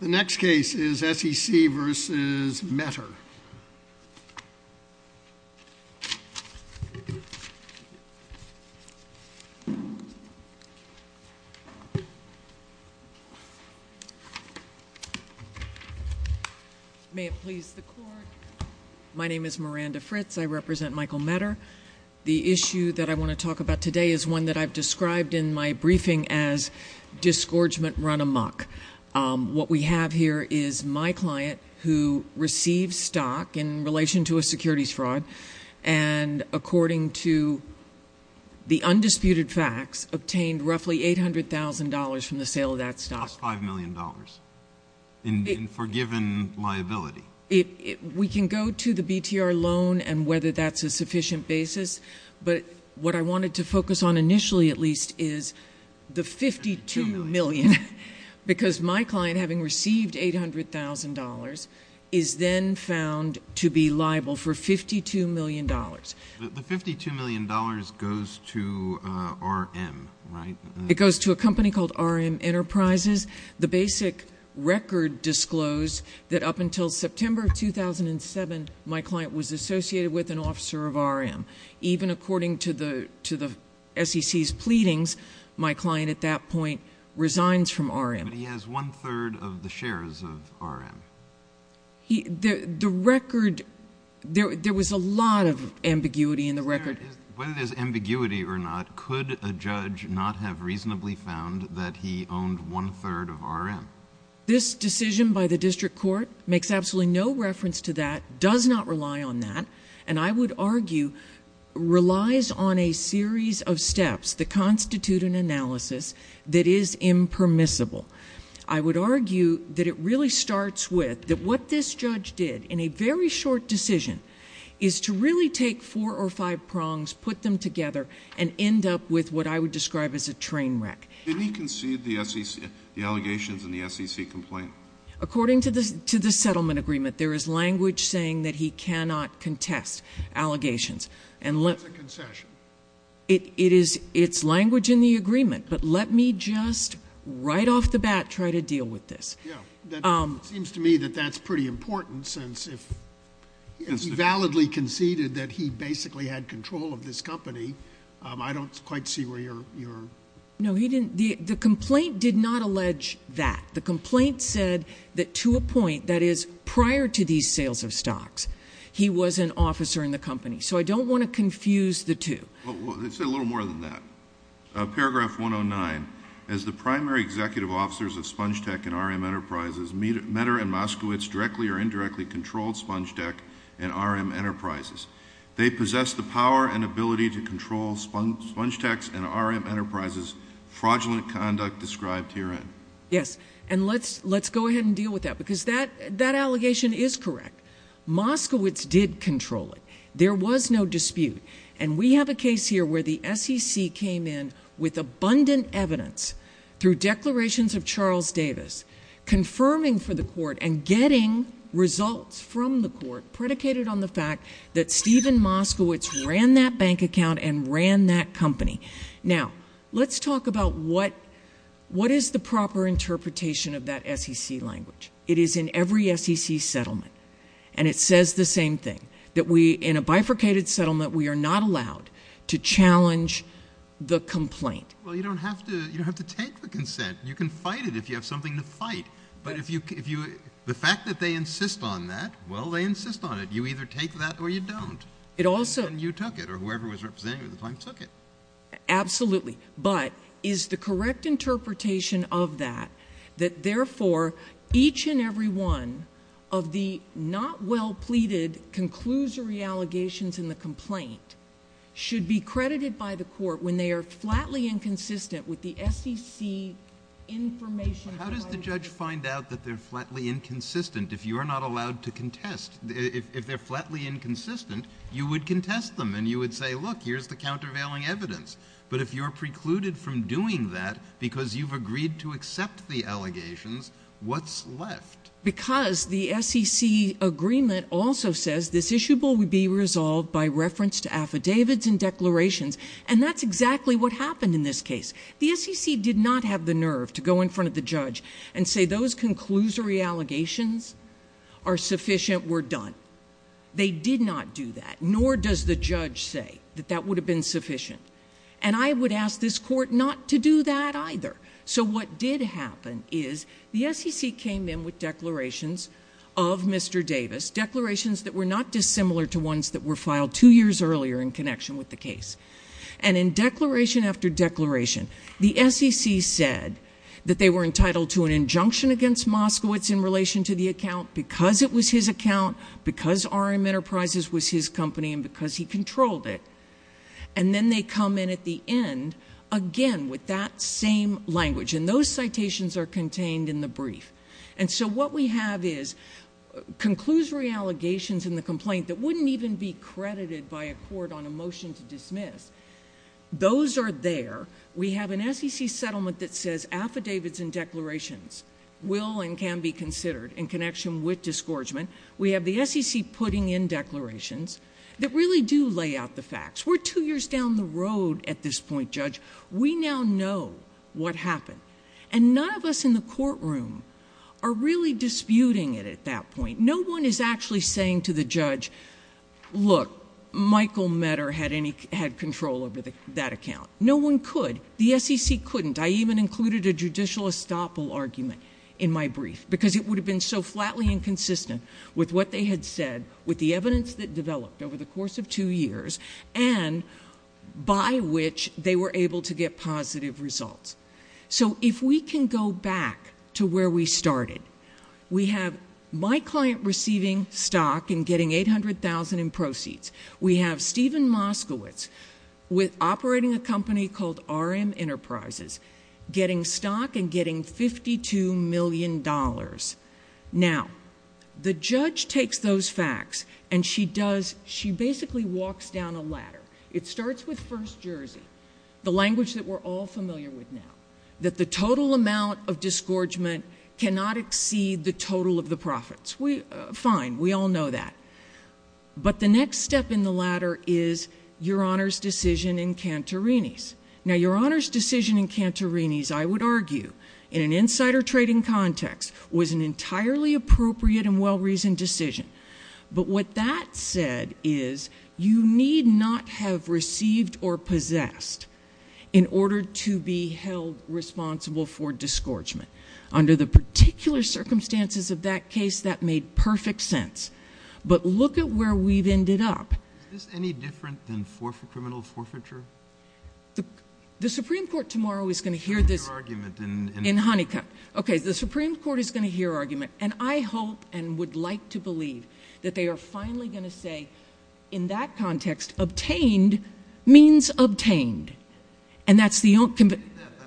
The next case is S.E.C. v. Metter. May it please the Court. My name is Miranda Fritz. I represent Michael Metter. The issue that I want to talk about today is one that I've described in my briefing as disgorgement run amok. What we have here is my client who received stock in relation to a securities fraud and according to the undisputed facts, obtained roughly $800,000 from the sale of that stock. Plus $5 million in forgiven liability. We can go to the BTR loan and whether that's a sufficient basis, but what I wanted to focus on initially at least is the $52 million. Because my client, having received $800,000, is then found to be liable for $52 million. The $52 million goes to RM, right? It goes to a company called RM Enterprises. The basic record disclosed that up until September of 2007, my client was associated with an officer of RM. Even according to the S.E.C.'s pleadings, my client at that point resigns from RM. But he has one-third of the shares of RM. The record, there was a lot of ambiguity in the record. Whether there's ambiguity or not, could a judge not have reasonably found that he owned one-third of RM? This decision by the district court makes absolutely no reference to that, does not rely on that, and I would argue relies on a series of steps that constitute an analysis that is impermissible. I would argue that it really starts with that what this judge did in a very short decision is to really take four or five prongs, put them together, and end up with what I would describe as a train wreck. Did he concede the allegations in the S.E.C. complaint? According to the settlement agreement, there is language saying that he cannot contest allegations. That's a concession. It's language in the agreement, but let me just right off the bat try to deal with this. It seems to me that that's pretty important since if he validly conceded that he basically had control of this company, I don't quite see where you're going. No, he didn't. The complaint did not allege that. The complaint said that to a point, that is prior to these sales of stocks, he was an officer in the company. So I don't want to confuse the two. Let's say a little more than that. Paragraph 109, as the primary executive officers of Spongetech and R.M. Enterprises, Medder and Moskowitz directly or indirectly controlled Spongetech and R.M. Enterprises. They possessed the power and ability to control Spongetech's and R.M. Enterprises' fraudulent conduct described herein. Yes, and let's go ahead and deal with that because that allegation is correct. Moskowitz did control it. There was no dispute. And we have a case here where the SEC came in with abundant evidence through declarations of Charles Davis, confirming for the court and getting results from the court predicated on the fact that Stephen Moskowitz ran that bank account and ran that company. Now, let's talk about what is the proper interpretation of that SEC language. It is in every SEC settlement. And it says the same thing, that in a bifurcated settlement we are not allowed to challenge the complaint. Well, you don't have to take the consent. You can fight it if you have something to fight. But the fact that they insist on that, well, they insist on it. You either take that or you don't. And you took it, or whoever was representing you at the time took it. Absolutely. But is the correct interpretation of that that, therefore, each and every one of the not-well-pleaded conclusory allegations in the complaint should be credited by the court when they are flatly inconsistent with the SEC information provided? How does the judge find out that they're flatly inconsistent if you're not allowed to contest? If they're flatly inconsistent, you would contest them and you would say, look, here's the countervailing evidence. But if you're precluded from doing that because you've agreed to accept the allegations, what's left? Because the SEC agreement also says this issue will be resolved by reference to affidavits and declarations. And that's exactly what happened in this case. The SEC did not have the nerve to go in front of the judge and say those conclusory allegations are sufficient, we're done. They did not do that, nor does the judge say that that would have been sufficient. And I would ask this court not to do that either. So what did happen is the SEC came in with declarations of Mr. Davis, declarations that were not dissimilar to ones that were filed two years earlier in connection with the case. And in declaration after declaration, the SEC said that they were entitled to an injunction against Moskowitz in relation to the account because it was his account, because RM Enterprises was his company, and because he controlled it. And then they come in at the end again with that same language. And those citations are contained in the brief. And so what we have is conclusory allegations in the complaint that wouldn't even be credited by a court on a motion to dismiss. Those are there. We have an SEC settlement that says affidavits and declarations will and can be considered in connection with disgorgement. We have the SEC putting in declarations that really do lay out the facts. We're two years down the road at this point, Judge. We now know what happened. And none of us in the courtroom are really disputing it at that point. No one is actually saying to the judge, look, Michael Medder had control over that account. No one could. The SEC couldn't. I even included a judicial estoppel argument in my brief because it would have been so flatly inconsistent with what they had said, with the evidence that developed over the course of two years, and by which they were able to get positive results. So if we can go back to where we started, we have my client receiving stock and getting $800,000 in proceeds. We have Steven Moskowitz operating a company called RM Enterprises getting stock and getting $52 million. Now, the judge takes those facts, and she basically walks down a ladder. It starts with First Jersey, the language that we're all familiar with now, that the total amount of disgorgement cannot exceed the total of the profits. Fine. We all know that. But the next step in the ladder is Your Honor's decision in Cantorini's. Now, Your Honor's decision in Cantorini's, I would argue, in an insider trading context, was an entirely appropriate and well-reasoned decision. But what that said is you need not have received or possessed in order to be held responsible for disgorgement. Under the particular circumstances of that case, that made perfect sense. But look at where we've ended up. Is this any different than criminal forfeiture? The Supreme Court tomorrow is going to hear this argument in Honeycutt. Okay, the Supreme Court is going to hear argument. And I hope and would like to believe that they are finally going to say, in that context, obtained means obtained. That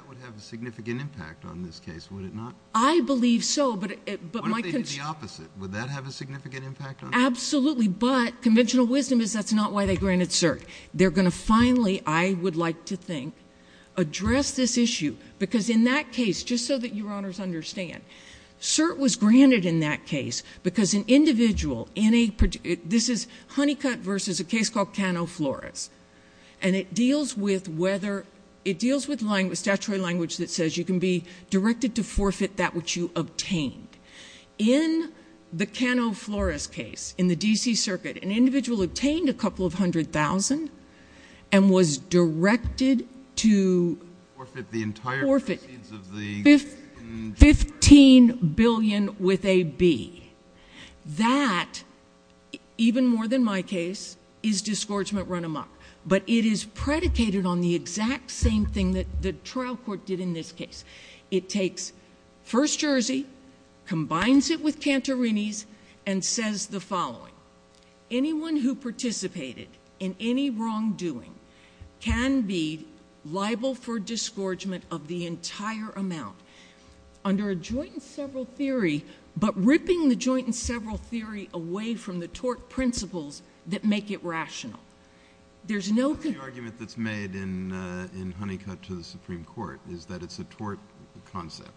would have a significant impact on this case, would it not? I believe so. What if they did the opposite? Would that have a significant impact? Absolutely. But conventional wisdom is that's not why they granted cert. They're going to finally, I would like to think, address this issue. Because in that case, just so that Your Honors understand, cert was granted in that case because an individual, this is Honeycutt versus a case called Cano Flores. And it deals with statutory language that says you can be directed to forfeit that which you obtained. In the Cano Flores case in the D.C. Circuit, an individual obtained a couple of hundred thousand and was directed to forfeit 15 billion with a B. That, even more than my case, is disgorgement run amok. But it is predicated on the exact same thing that the trial court did in this case. It takes First Jersey, combines it with Cantorini's, and says the following. Anyone who participated in any wrongdoing can be liable for disgorgement of the entire amount. Under a joint and several theory, but ripping the joint and several theory away from the tort principles that make it rational. There's no— The only argument that's made in Honeycutt to the Supreme Court is that it's a tort concept.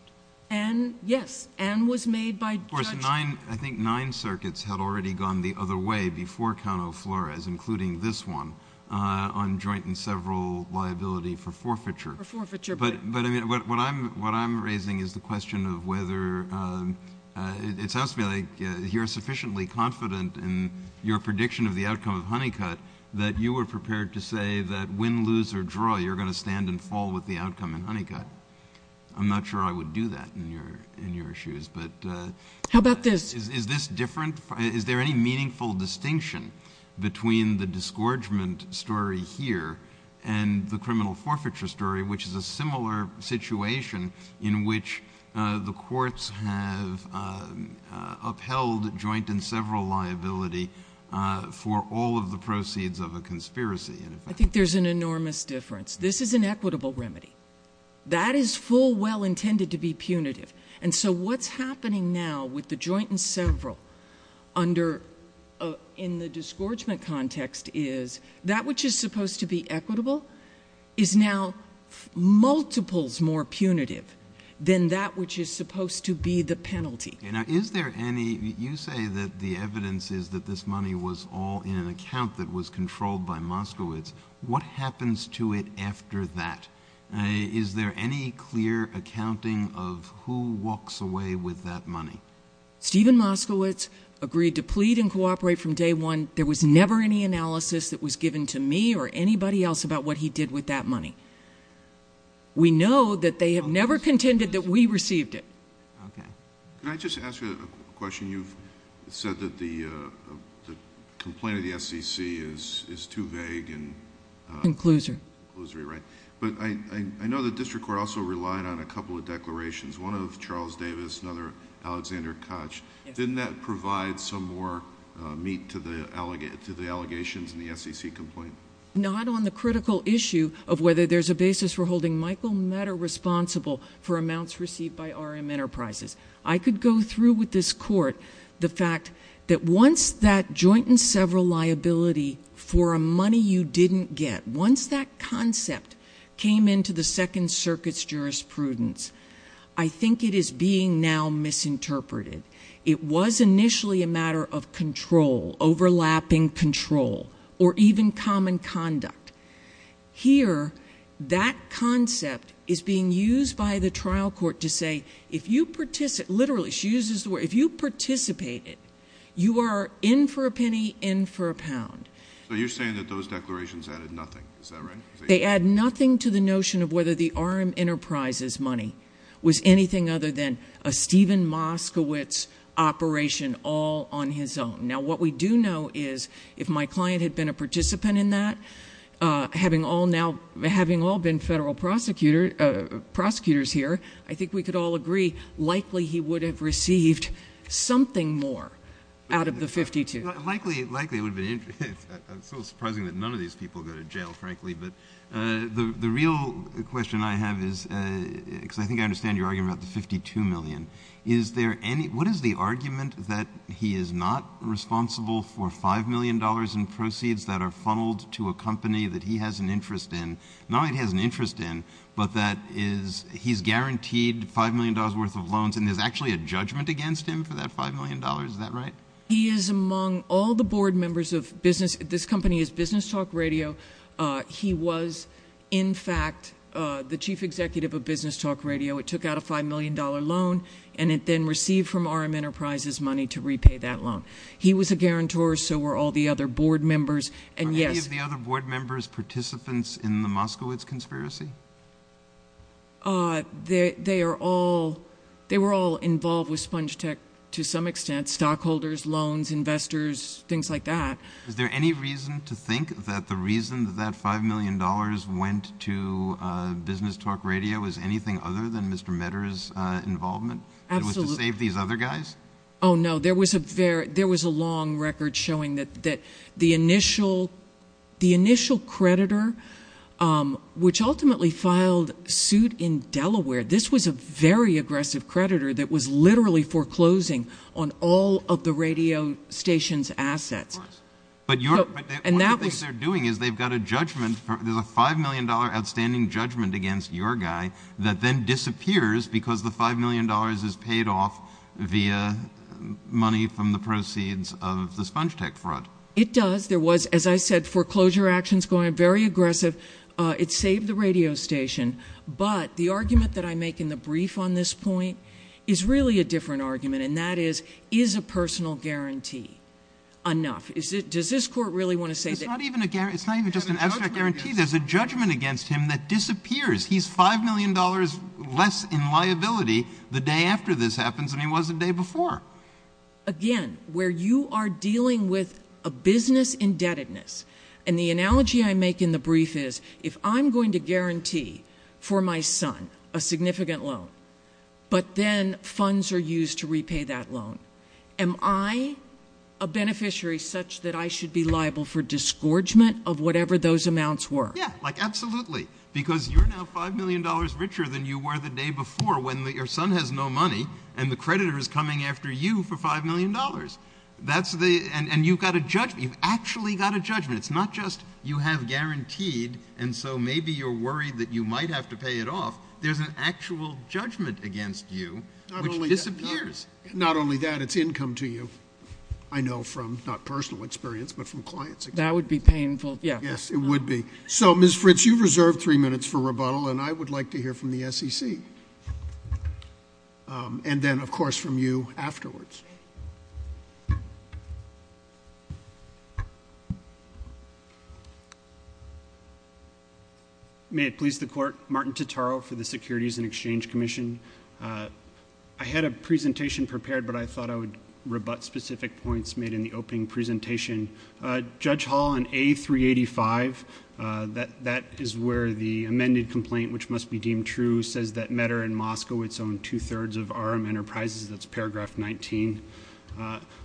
And, yes, and was made by Judge— Of course, I think nine circuits had already gone the other way before Cano Flores, including this one, on joint and several liability for forfeiture. For forfeiture. But what I'm raising is the question of whether—it sounds to me like you're sufficiently confident in your prediction of the outcome of Honeycutt that you were prepared to say that win, lose, or draw, you're going to stand and fall with the outcome in Honeycutt. I'm not sure I would do that in your shoes, but— How about this? Is this different? Is there any meaningful distinction between the disgorgement story here and the criminal forfeiture story, which is a similar situation in which the courts have upheld joint and several liability for all of the proceeds of a conspiracy? I think there's an enormous difference. This is an equitable remedy. That is full well intended to be punitive. And so what's happening now with the joint and several under—in the disgorgement context is, that which is supposed to be equitable is now multiples more punitive than that which is supposed to be the penalty. Now, is there any—you say that the evidence is that this money was all in an account that was controlled by Moskowitz. What happens to it after that? Is there any clear accounting of who walks away with that money? Steven Moskowitz agreed to plead and cooperate from day one. There was never any analysis that was given to me or anybody else about what he did with that money. We know that they have never contended that we received it. Okay. Can I just ask you a question? You've said that the complaint of the SEC is too vague and— Inclusory. Inclusory, right. But I know the district court also relied on a couple of declarations, one of Charles Davis, another Alexander Koch. Didn't that provide some more meat to the allegations in the SEC complaint? Not on the critical issue of whether there's a basis for holding Michael Meador responsible for amounts received by RM Enterprises. I could go through with this court the fact that once that joint and several liability for a money you didn't get, once that concept came into the Second Circuit's jurisprudence, I think it is being now misinterpreted. It was initially a matter of control, overlapping control, or even common conduct. Here, that concept is being used by the trial court to say, if you participate—literally, she uses the word— if you participated, you are in for a penny, in for a pound. So you're saying that those declarations added nothing. Is that right? They add nothing to the notion of whether the RM Enterprises money was anything other than a Steven Moskowitz operation all on his own. Now, what we do know is, if my client had been a participant in that, having all been federal prosecutors here, I think we could all agree likely he would have received something more out of the 52. Likely it would have been—it's a little surprising that none of these people go to jail, frankly. But the real question I have is—because I think I understand your argument about the 52 million. What is the argument that he is not responsible for $5 million in proceeds that are funneled to a company that he has an interest in? Not only that he has an interest in, but that he's guaranteed $5 million worth of loans, and there's actually a judgment against him for that $5 million? Is that right? He is among all the board members of business—this company is Business Talk Radio. He was, in fact, the chief executive of Business Talk Radio. It took out a $5 million loan, and it then received from RM Enterprises money to repay that loan. He was a guarantor, so were all the other board members, and yes— Were any of the other board members participants in the Moskowitz conspiracy? They were all involved with Spongetech to some extent—stockholders, loans, investors, things like that. Is there any reason to think that the reason that that $5 million went to Business Talk Radio is anything other than Mr. Medder's involvement? Absolutely. It was to save these other guys? Oh, no. There was a long record showing that the initial creditor, which ultimately filed suit in Delaware—this was a very aggressive creditor that was literally foreclosing on all of the radio station's assets. Right. But one of the things they're doing is they've got a judgment—there's a $5 million outstanding judgment against your guy that then disappears because the $5 million is paid off via money from the proceeds of the Spongetech fraud. It does. There was, as I said, foreclosure actions going on, very aggressive. It saved the radio station. But the argument that I make in the brief on this point is really a different argument, and that is, is a personal guarantee enough? Does this court really want to say that— It's not even just an abstract guarantee. There's a judgment against him that disappears. He's $5 million less in liability the day after this happens than he was the day before. Again, where you are dealing with a business indebtedness, and the analogy I make in the brief is if I'm going to guarantee for my son a significant loan, but then funds are used to repay that loan, am I a beneficiary such that I should be liable for disgorgement of whatever those amounts were? Yeah, like absolutely, because you're now $5 million richer than you were the day before when your son has no money and the creditor is coming after you for $5 million. That's the—and you've got a judgment. You've actually got a judgment. It's not just you have guaranteed, and so maybe you're worried that you might have to pay it off. There's an actual judgment against you which disappears. Not only that, it's income to you. I know from not personal experience, but from clients. That would be painful. Yes, it would be. So, Ms. Fritz, you reserve three minutes for rebuttal, and I would like to hear from the SEC, and then, of course, from you afterwards. May it please the Court. Martin Totaro for the Securities and Exchange Commission. I had a presentation prepared, but I thought I would rebut specific points made in the opening presentation. Judge Hall, on A385, that is where the amended complaint, which must be deemed true, says that MEDR in Moscow, its own two-thirds of RM Enterprises. That's paragraph 19.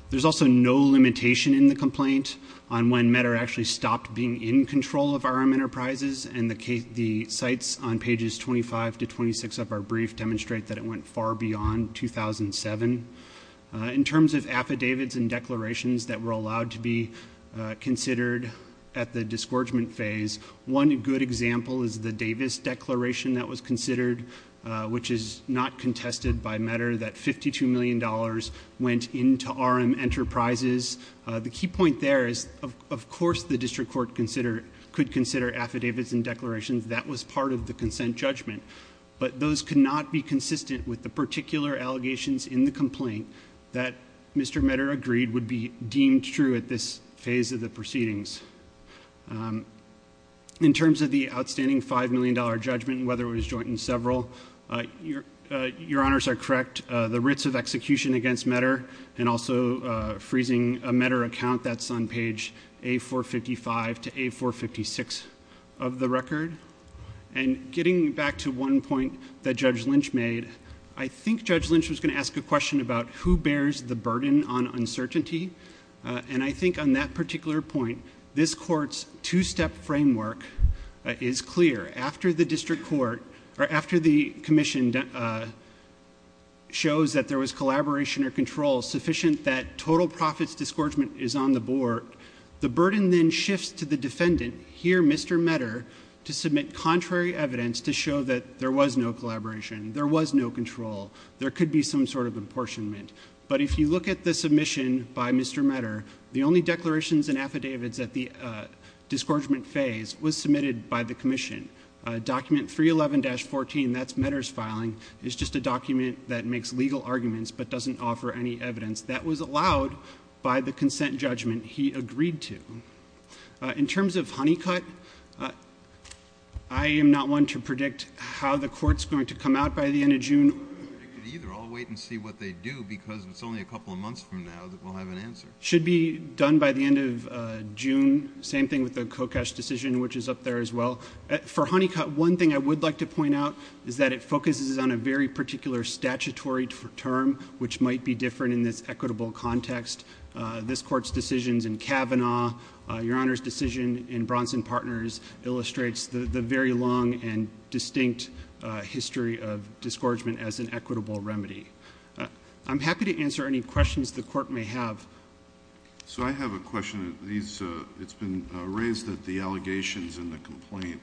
There's also no limitation in the complaint on when MEDR actually stopped being in control of RM Enterprises, and the sites on pages 25 to 26 of our brief demonstrate that it went far beyond 2007. In terms of affidavits and declarations that were allowed to be considered at the disgorgement phase, one good example is the Davis declaration that was considered, which is not contested by MEDR, that $52 million went into RM Enterprises. The key point there is, of course, the district court could consider affidavits and declarations. That was part of the consent judgment, but those could not be consistent with the particular allegations in the complaint that Mr. MEDR agreed would be deemed true at this phase of the proceedings. In terms of the outstanding $5 million judgment, whether it was joint and several, your honors are correct. The writs of execution against MEDR and also freezing a MEDR account, that's on page A455 to A456 of the record. Getting back to one point that Judge Lynch made, I think Judge Lynch was going to ask a question about who bears the burden on uncertainty. I think on that particular point, this court's two-step framework is clear. After the commission shows that there was collaboration or control sufficient that total profits disgorgement is on the board, the burden then shifts to the defendant, here Mr. MEDR, to submit contrary evidence to show that there was no collaboration, there was no control. There could be some sort of apportionment. But if you look at the submission by Mr. MEDR, the only declarations and affidavits at the disgorgement phase was submitted by the commission. Document 311-14, that's MEDR's filing, is just a document that makes legal arguments but doesn't offer any evidence. That was allowed by the consent judgment he agreed to. In terms of Honeycutt, I am not one to predict how the court's going to come out by the end of June. I'm not one to predict it either. I'll wait and see what they do because it's only a couple of months from now that we'll have an answer. Should be done by the end of June. Same thing with the Kokash decision, which is up there as well. For Honeycutt, one thing I would like to point out is that it focuses on a very particular statutory term, which might be different in this equitable context. This court's decisions in Kavanaugh, Your Honor's decision in Bronson Partners illustrates the very long and distinct history of disgorgement as an equitable remedy. I'm happy to answer any questions the court may have. So I have a question. It's been raised that the allegations in the complaint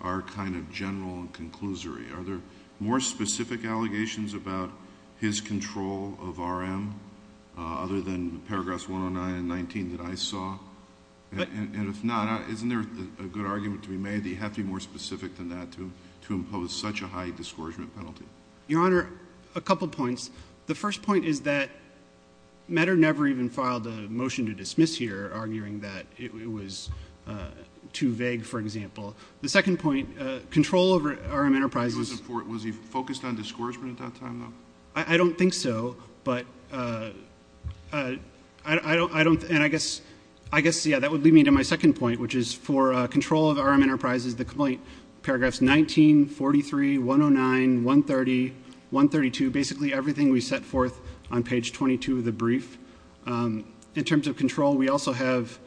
are kind of general and conclusory. Are there more specific allegations about his control of RM other than paragraphs 109 and 19 that I saw? And if not, isn't there a good argument to be made that you have to be more specific than that to impose such a high disgorgement penalty? Your Honor, a couple points. The first point is that Medder never even filed a motion to dismiss here, arguing that it was too vague, for example. The second point, control over RM Enterprises. Was he focused on disgorgement at that time, though? I don't think so, but I guess, yeah, that would lead me to my second point, which is for control of RM Enterprises, the complaint paragraphs 19, 43, 109, 130, 132, basically everything we set forth on page 22 of the brief. In terms of control, we also have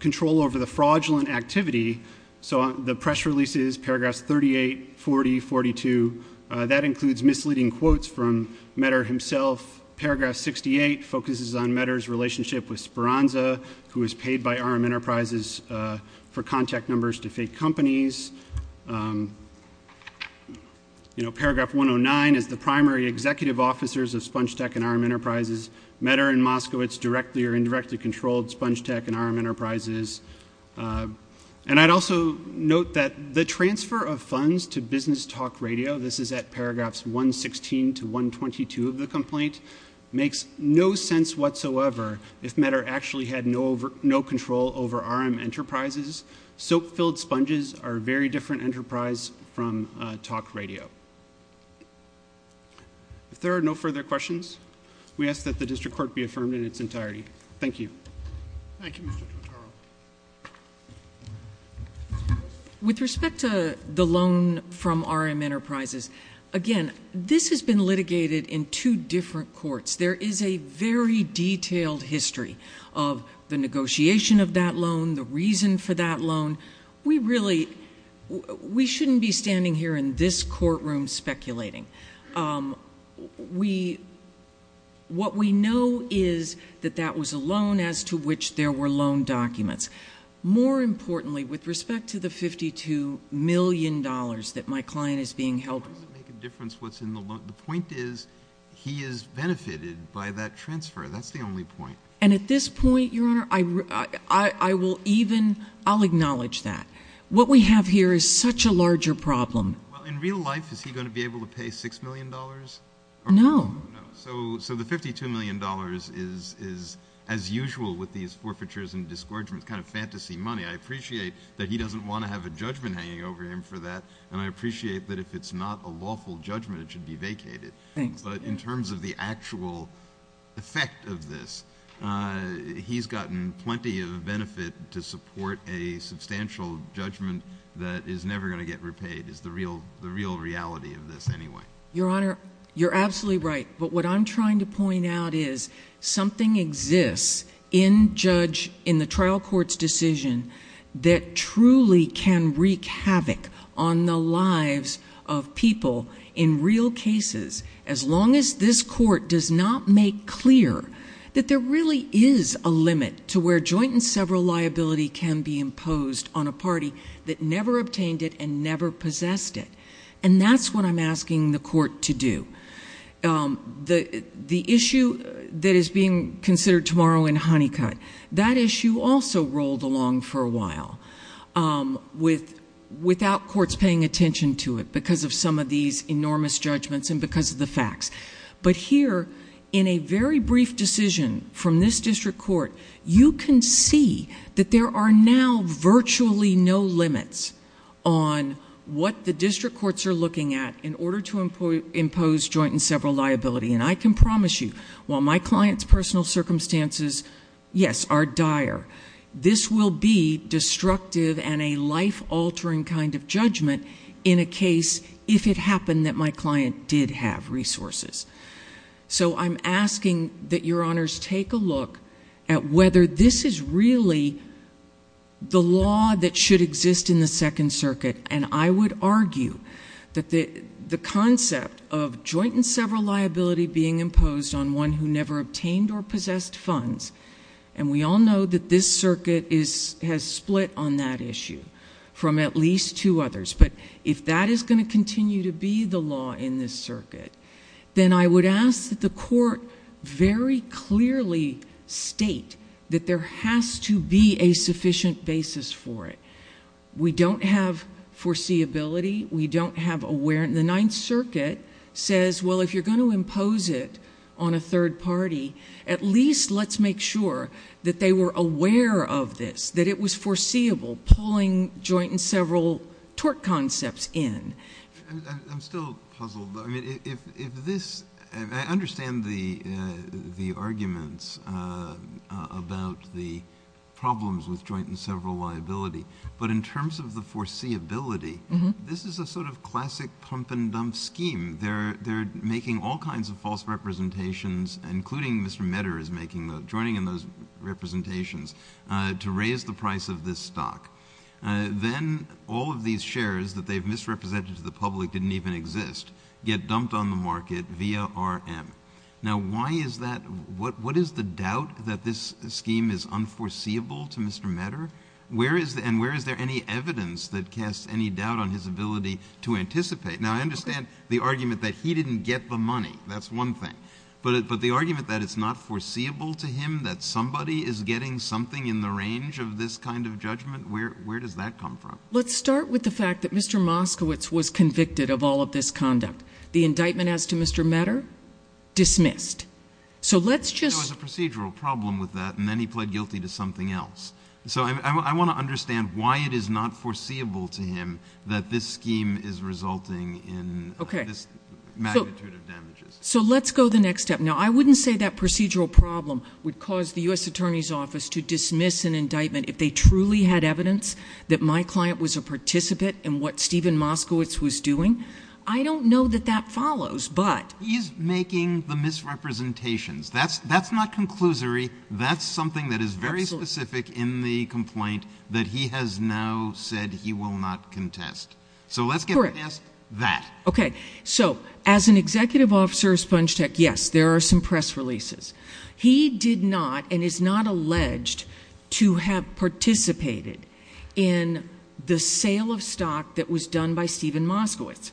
control over the fraudulent activity. So the press releases, paragraphs 38, 40, 42, that includes misleading quotes from Medder himself. Paragraph 68 focuses on Medder's relationship with Speranza, who was paid by RM Enterprises for contact numbers to fake companies. Paragraph 109 is the primary executive officers of Spongetech and RM Enterprises. Medder and Moskowitz directly or indirectly controlled Spongetech and RM Enterprises. And I'd also note that the transfer of funds to Business Talk Radio, this is at paragraphs 116 to 122 of the complaint, makes no sense whatsoever if Medder actually had no control over RM Enterprises. Soap-filled sponges are a very different enterprise from talk radio. If there are no further questions, we ask that the district court be affirmed in its entirety. Thank you. Thank you, Mr. Trattaro. With respect to the loan from RM Enterprises, again, this has been litigated in two different courts. There is a very detailed history of the negotiation of that loan, the reason for that loan. We really shouldn't be standing here in this courtroom speculating. What we know is that that was a loan as to which there were loan documents. More importantly, with respect to the $52 million that my client is being held to. The point is he is benefited by that transfer. That's the only point. And at this point, Your Honor, I will even acknowledge that. What we have here is such a larger problem. In real life, is he going to be able to pay $6 million? No. So the $52 million is, as usual with these forfeitures and discouragements, kind of fantasy money. I appreciate that he doesn't want to have a judgment hanging over him for that. And I appreciate that if it's not a lawful judgment, it should be vacated. Thanks. But in terms of the actual effect of this, he's gotten plenty of benefit to support a substantial judgment that is never going to get repaid is the real reality of this anyway. Your Honor, you're absolutely right. But what I'm trying to point out is something exists in the trial court's decision that truly can wreak havoc on the lives of people in real cases as long as this court does not make clear that there really is a limit to where joint and several liability can be imposed on a party that never obtained it and never possessed it. And that's what I'm asking the court to do. The issue that is being considered tomorrow in Honeycutt, that issue also rolled along for a while without courts paying attention to it because of some of these enormous judgments and because of the facts. But here, in a very brief decision from this district court, you can see that there are now virtually no limits on what the district courts are looking at in order to impose joint and several liability. And I can promise you, while my client's personal circumstances, yes, are dire, this will be destructive and a life-altering kind of judgment in a case if it happened that my client did have resources. So I'm asking that Your Honors take a look at whether this is really the law that should exist in the Second Circuit. And I would argue that the concept of joint and several liability being imposed on one who never obtained or possessed funds, and we all know that this circuit has split on that issue from at least two others. But if that is going to continue to be the law in this circuit, then I would ask that the court very clearly state that there has to be a sufficient basis for it. We don't have foreseeability. We don't have awareness. And the Ninth Circuit says, well, if you're going to impose it on a third party, at least let's make sure that they were aware of this, that it was foreseeable, pulling joint and several tort concepts in. I'm still puzzled. I understand the arguments about the problems with joint and several liability. But in terms of the foreseeability, this is a sort of classic pump-and-dump scheme. They're making all kinds of false representations, including Mr. Medder is joining in those representations, to raise the price of this stock. Then all of these shares that they've misrepresented to the public didn't even exist get dumped on the market via RM. Now, why is that? What is the doubt that this scheme is unforeseeable to Mr. Medder? And where is there any evidence that casts any doubt on his ability to anticipate? Now, I understand the argument that he didn't get the money. That's one thing. But the argument that it's not foreseeable to him, that somebody is getting something in the range of this kind of judgment, where does that come from? Let's start with the fact that Mr. Moskowitz was convicted of all of this conduct. The indictment as to Mr. Medder? Dismissed. So let's just— There was a procedural problem with that, and then he pled guilty to something else. So I want to understand why it is not foreseeable to him that this scheme is resulting in this magnitude of damages. So let's go the next step. Now, I wouldn't say that procedural problem would cause the U.S. Attorney's Office to dismiss an indictment if they truly had evidence that my client was a participant in what Stephen Moskowitz was doing. I don't know that that follows, but— He's making the misrepresentations. That's not conclusory. That's something that is very specific in the complaint that he has now said he will not contest. Correct. So let's get past that. Okay. So as an executive officer of Spongetech, yes, there are some press releases. He did not and is not alleged to have participated in the sale of stock that was done by Stephen Moskowitz.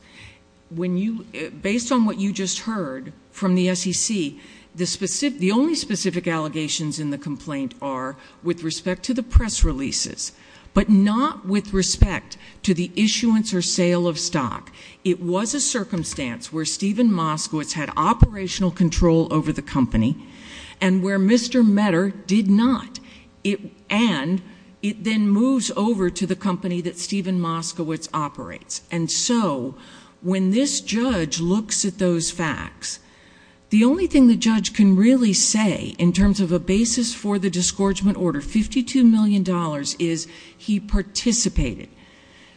Based on what you just heard from the SEC, the only specific allegations in the complaint are with respect to the press releases, but not with respect to the issuance or sale of stock. It was a circumstance where Stephen Moskowitz had operational control over the company and where Mr. Meder did not, and it then moves over to the company that Stephen Moskowitz operates. And so when this judge looks at those facts, the only thing the judge can really say in terms of a basis for the disgorgement order, $52 million, is he participated.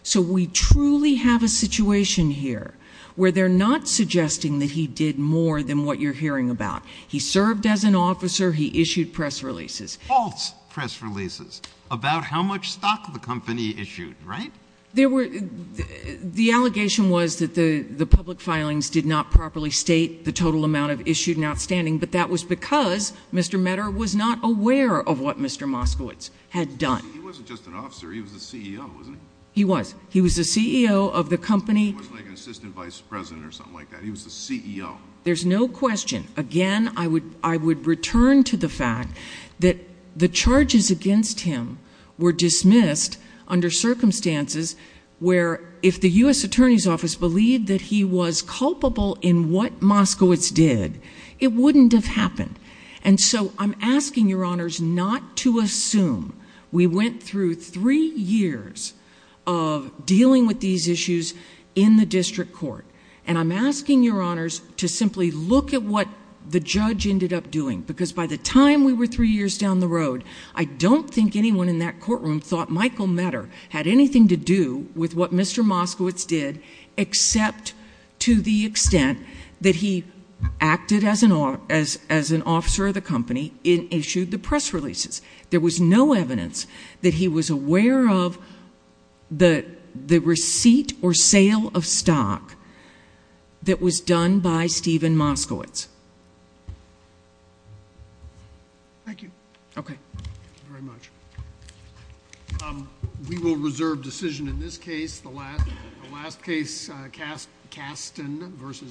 So we truly have a situation here where they're not suggesting that he did more than what you're hearing about. He served as an officer. He issued press releases. False press releases about how much stock the company issued, right? The allegation was that the public filings did not properly state the total amount of issued and outstanding, but that was because Mr. Meder was not aware of what Mr. Moskowitz had done. He wasn't just an officer. He was the CEO, wasn't he? He was. He was the CEO of the company. He wasn't like an assistant vice president or something like that. He was the CEO. There's no question. Again, I would return to the fact that the charges against him were dismissed under circumstances where, if the U.S. Attorney's Office believed that he was culpable in what Moskowitz did, it wouldn't have happened. And so I'm asking your honors not to assume we went through three years of dealing with these issues in the district court, and I'm asking your honors to simply look at what the judge ended up doing, because by the time we were three years down the road, I don't think anyone in that courtroom thought Michael Meder had anything to do with what Mr. Moskowitz did, except to the extent that he acted as an officer of the company and issued the press releases. There was no evidence that he was aware of the receipt or sale of stock that was done by Stephen Moskowitz. Thank you. Okay. Thank you very much. We will reserve decision in this case. The last case, Kasten v.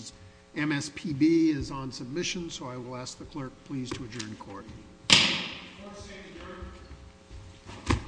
MSPB, is on submission, so I will ask the clerk, please, to adjourn the court. Clerk, stand adjourned.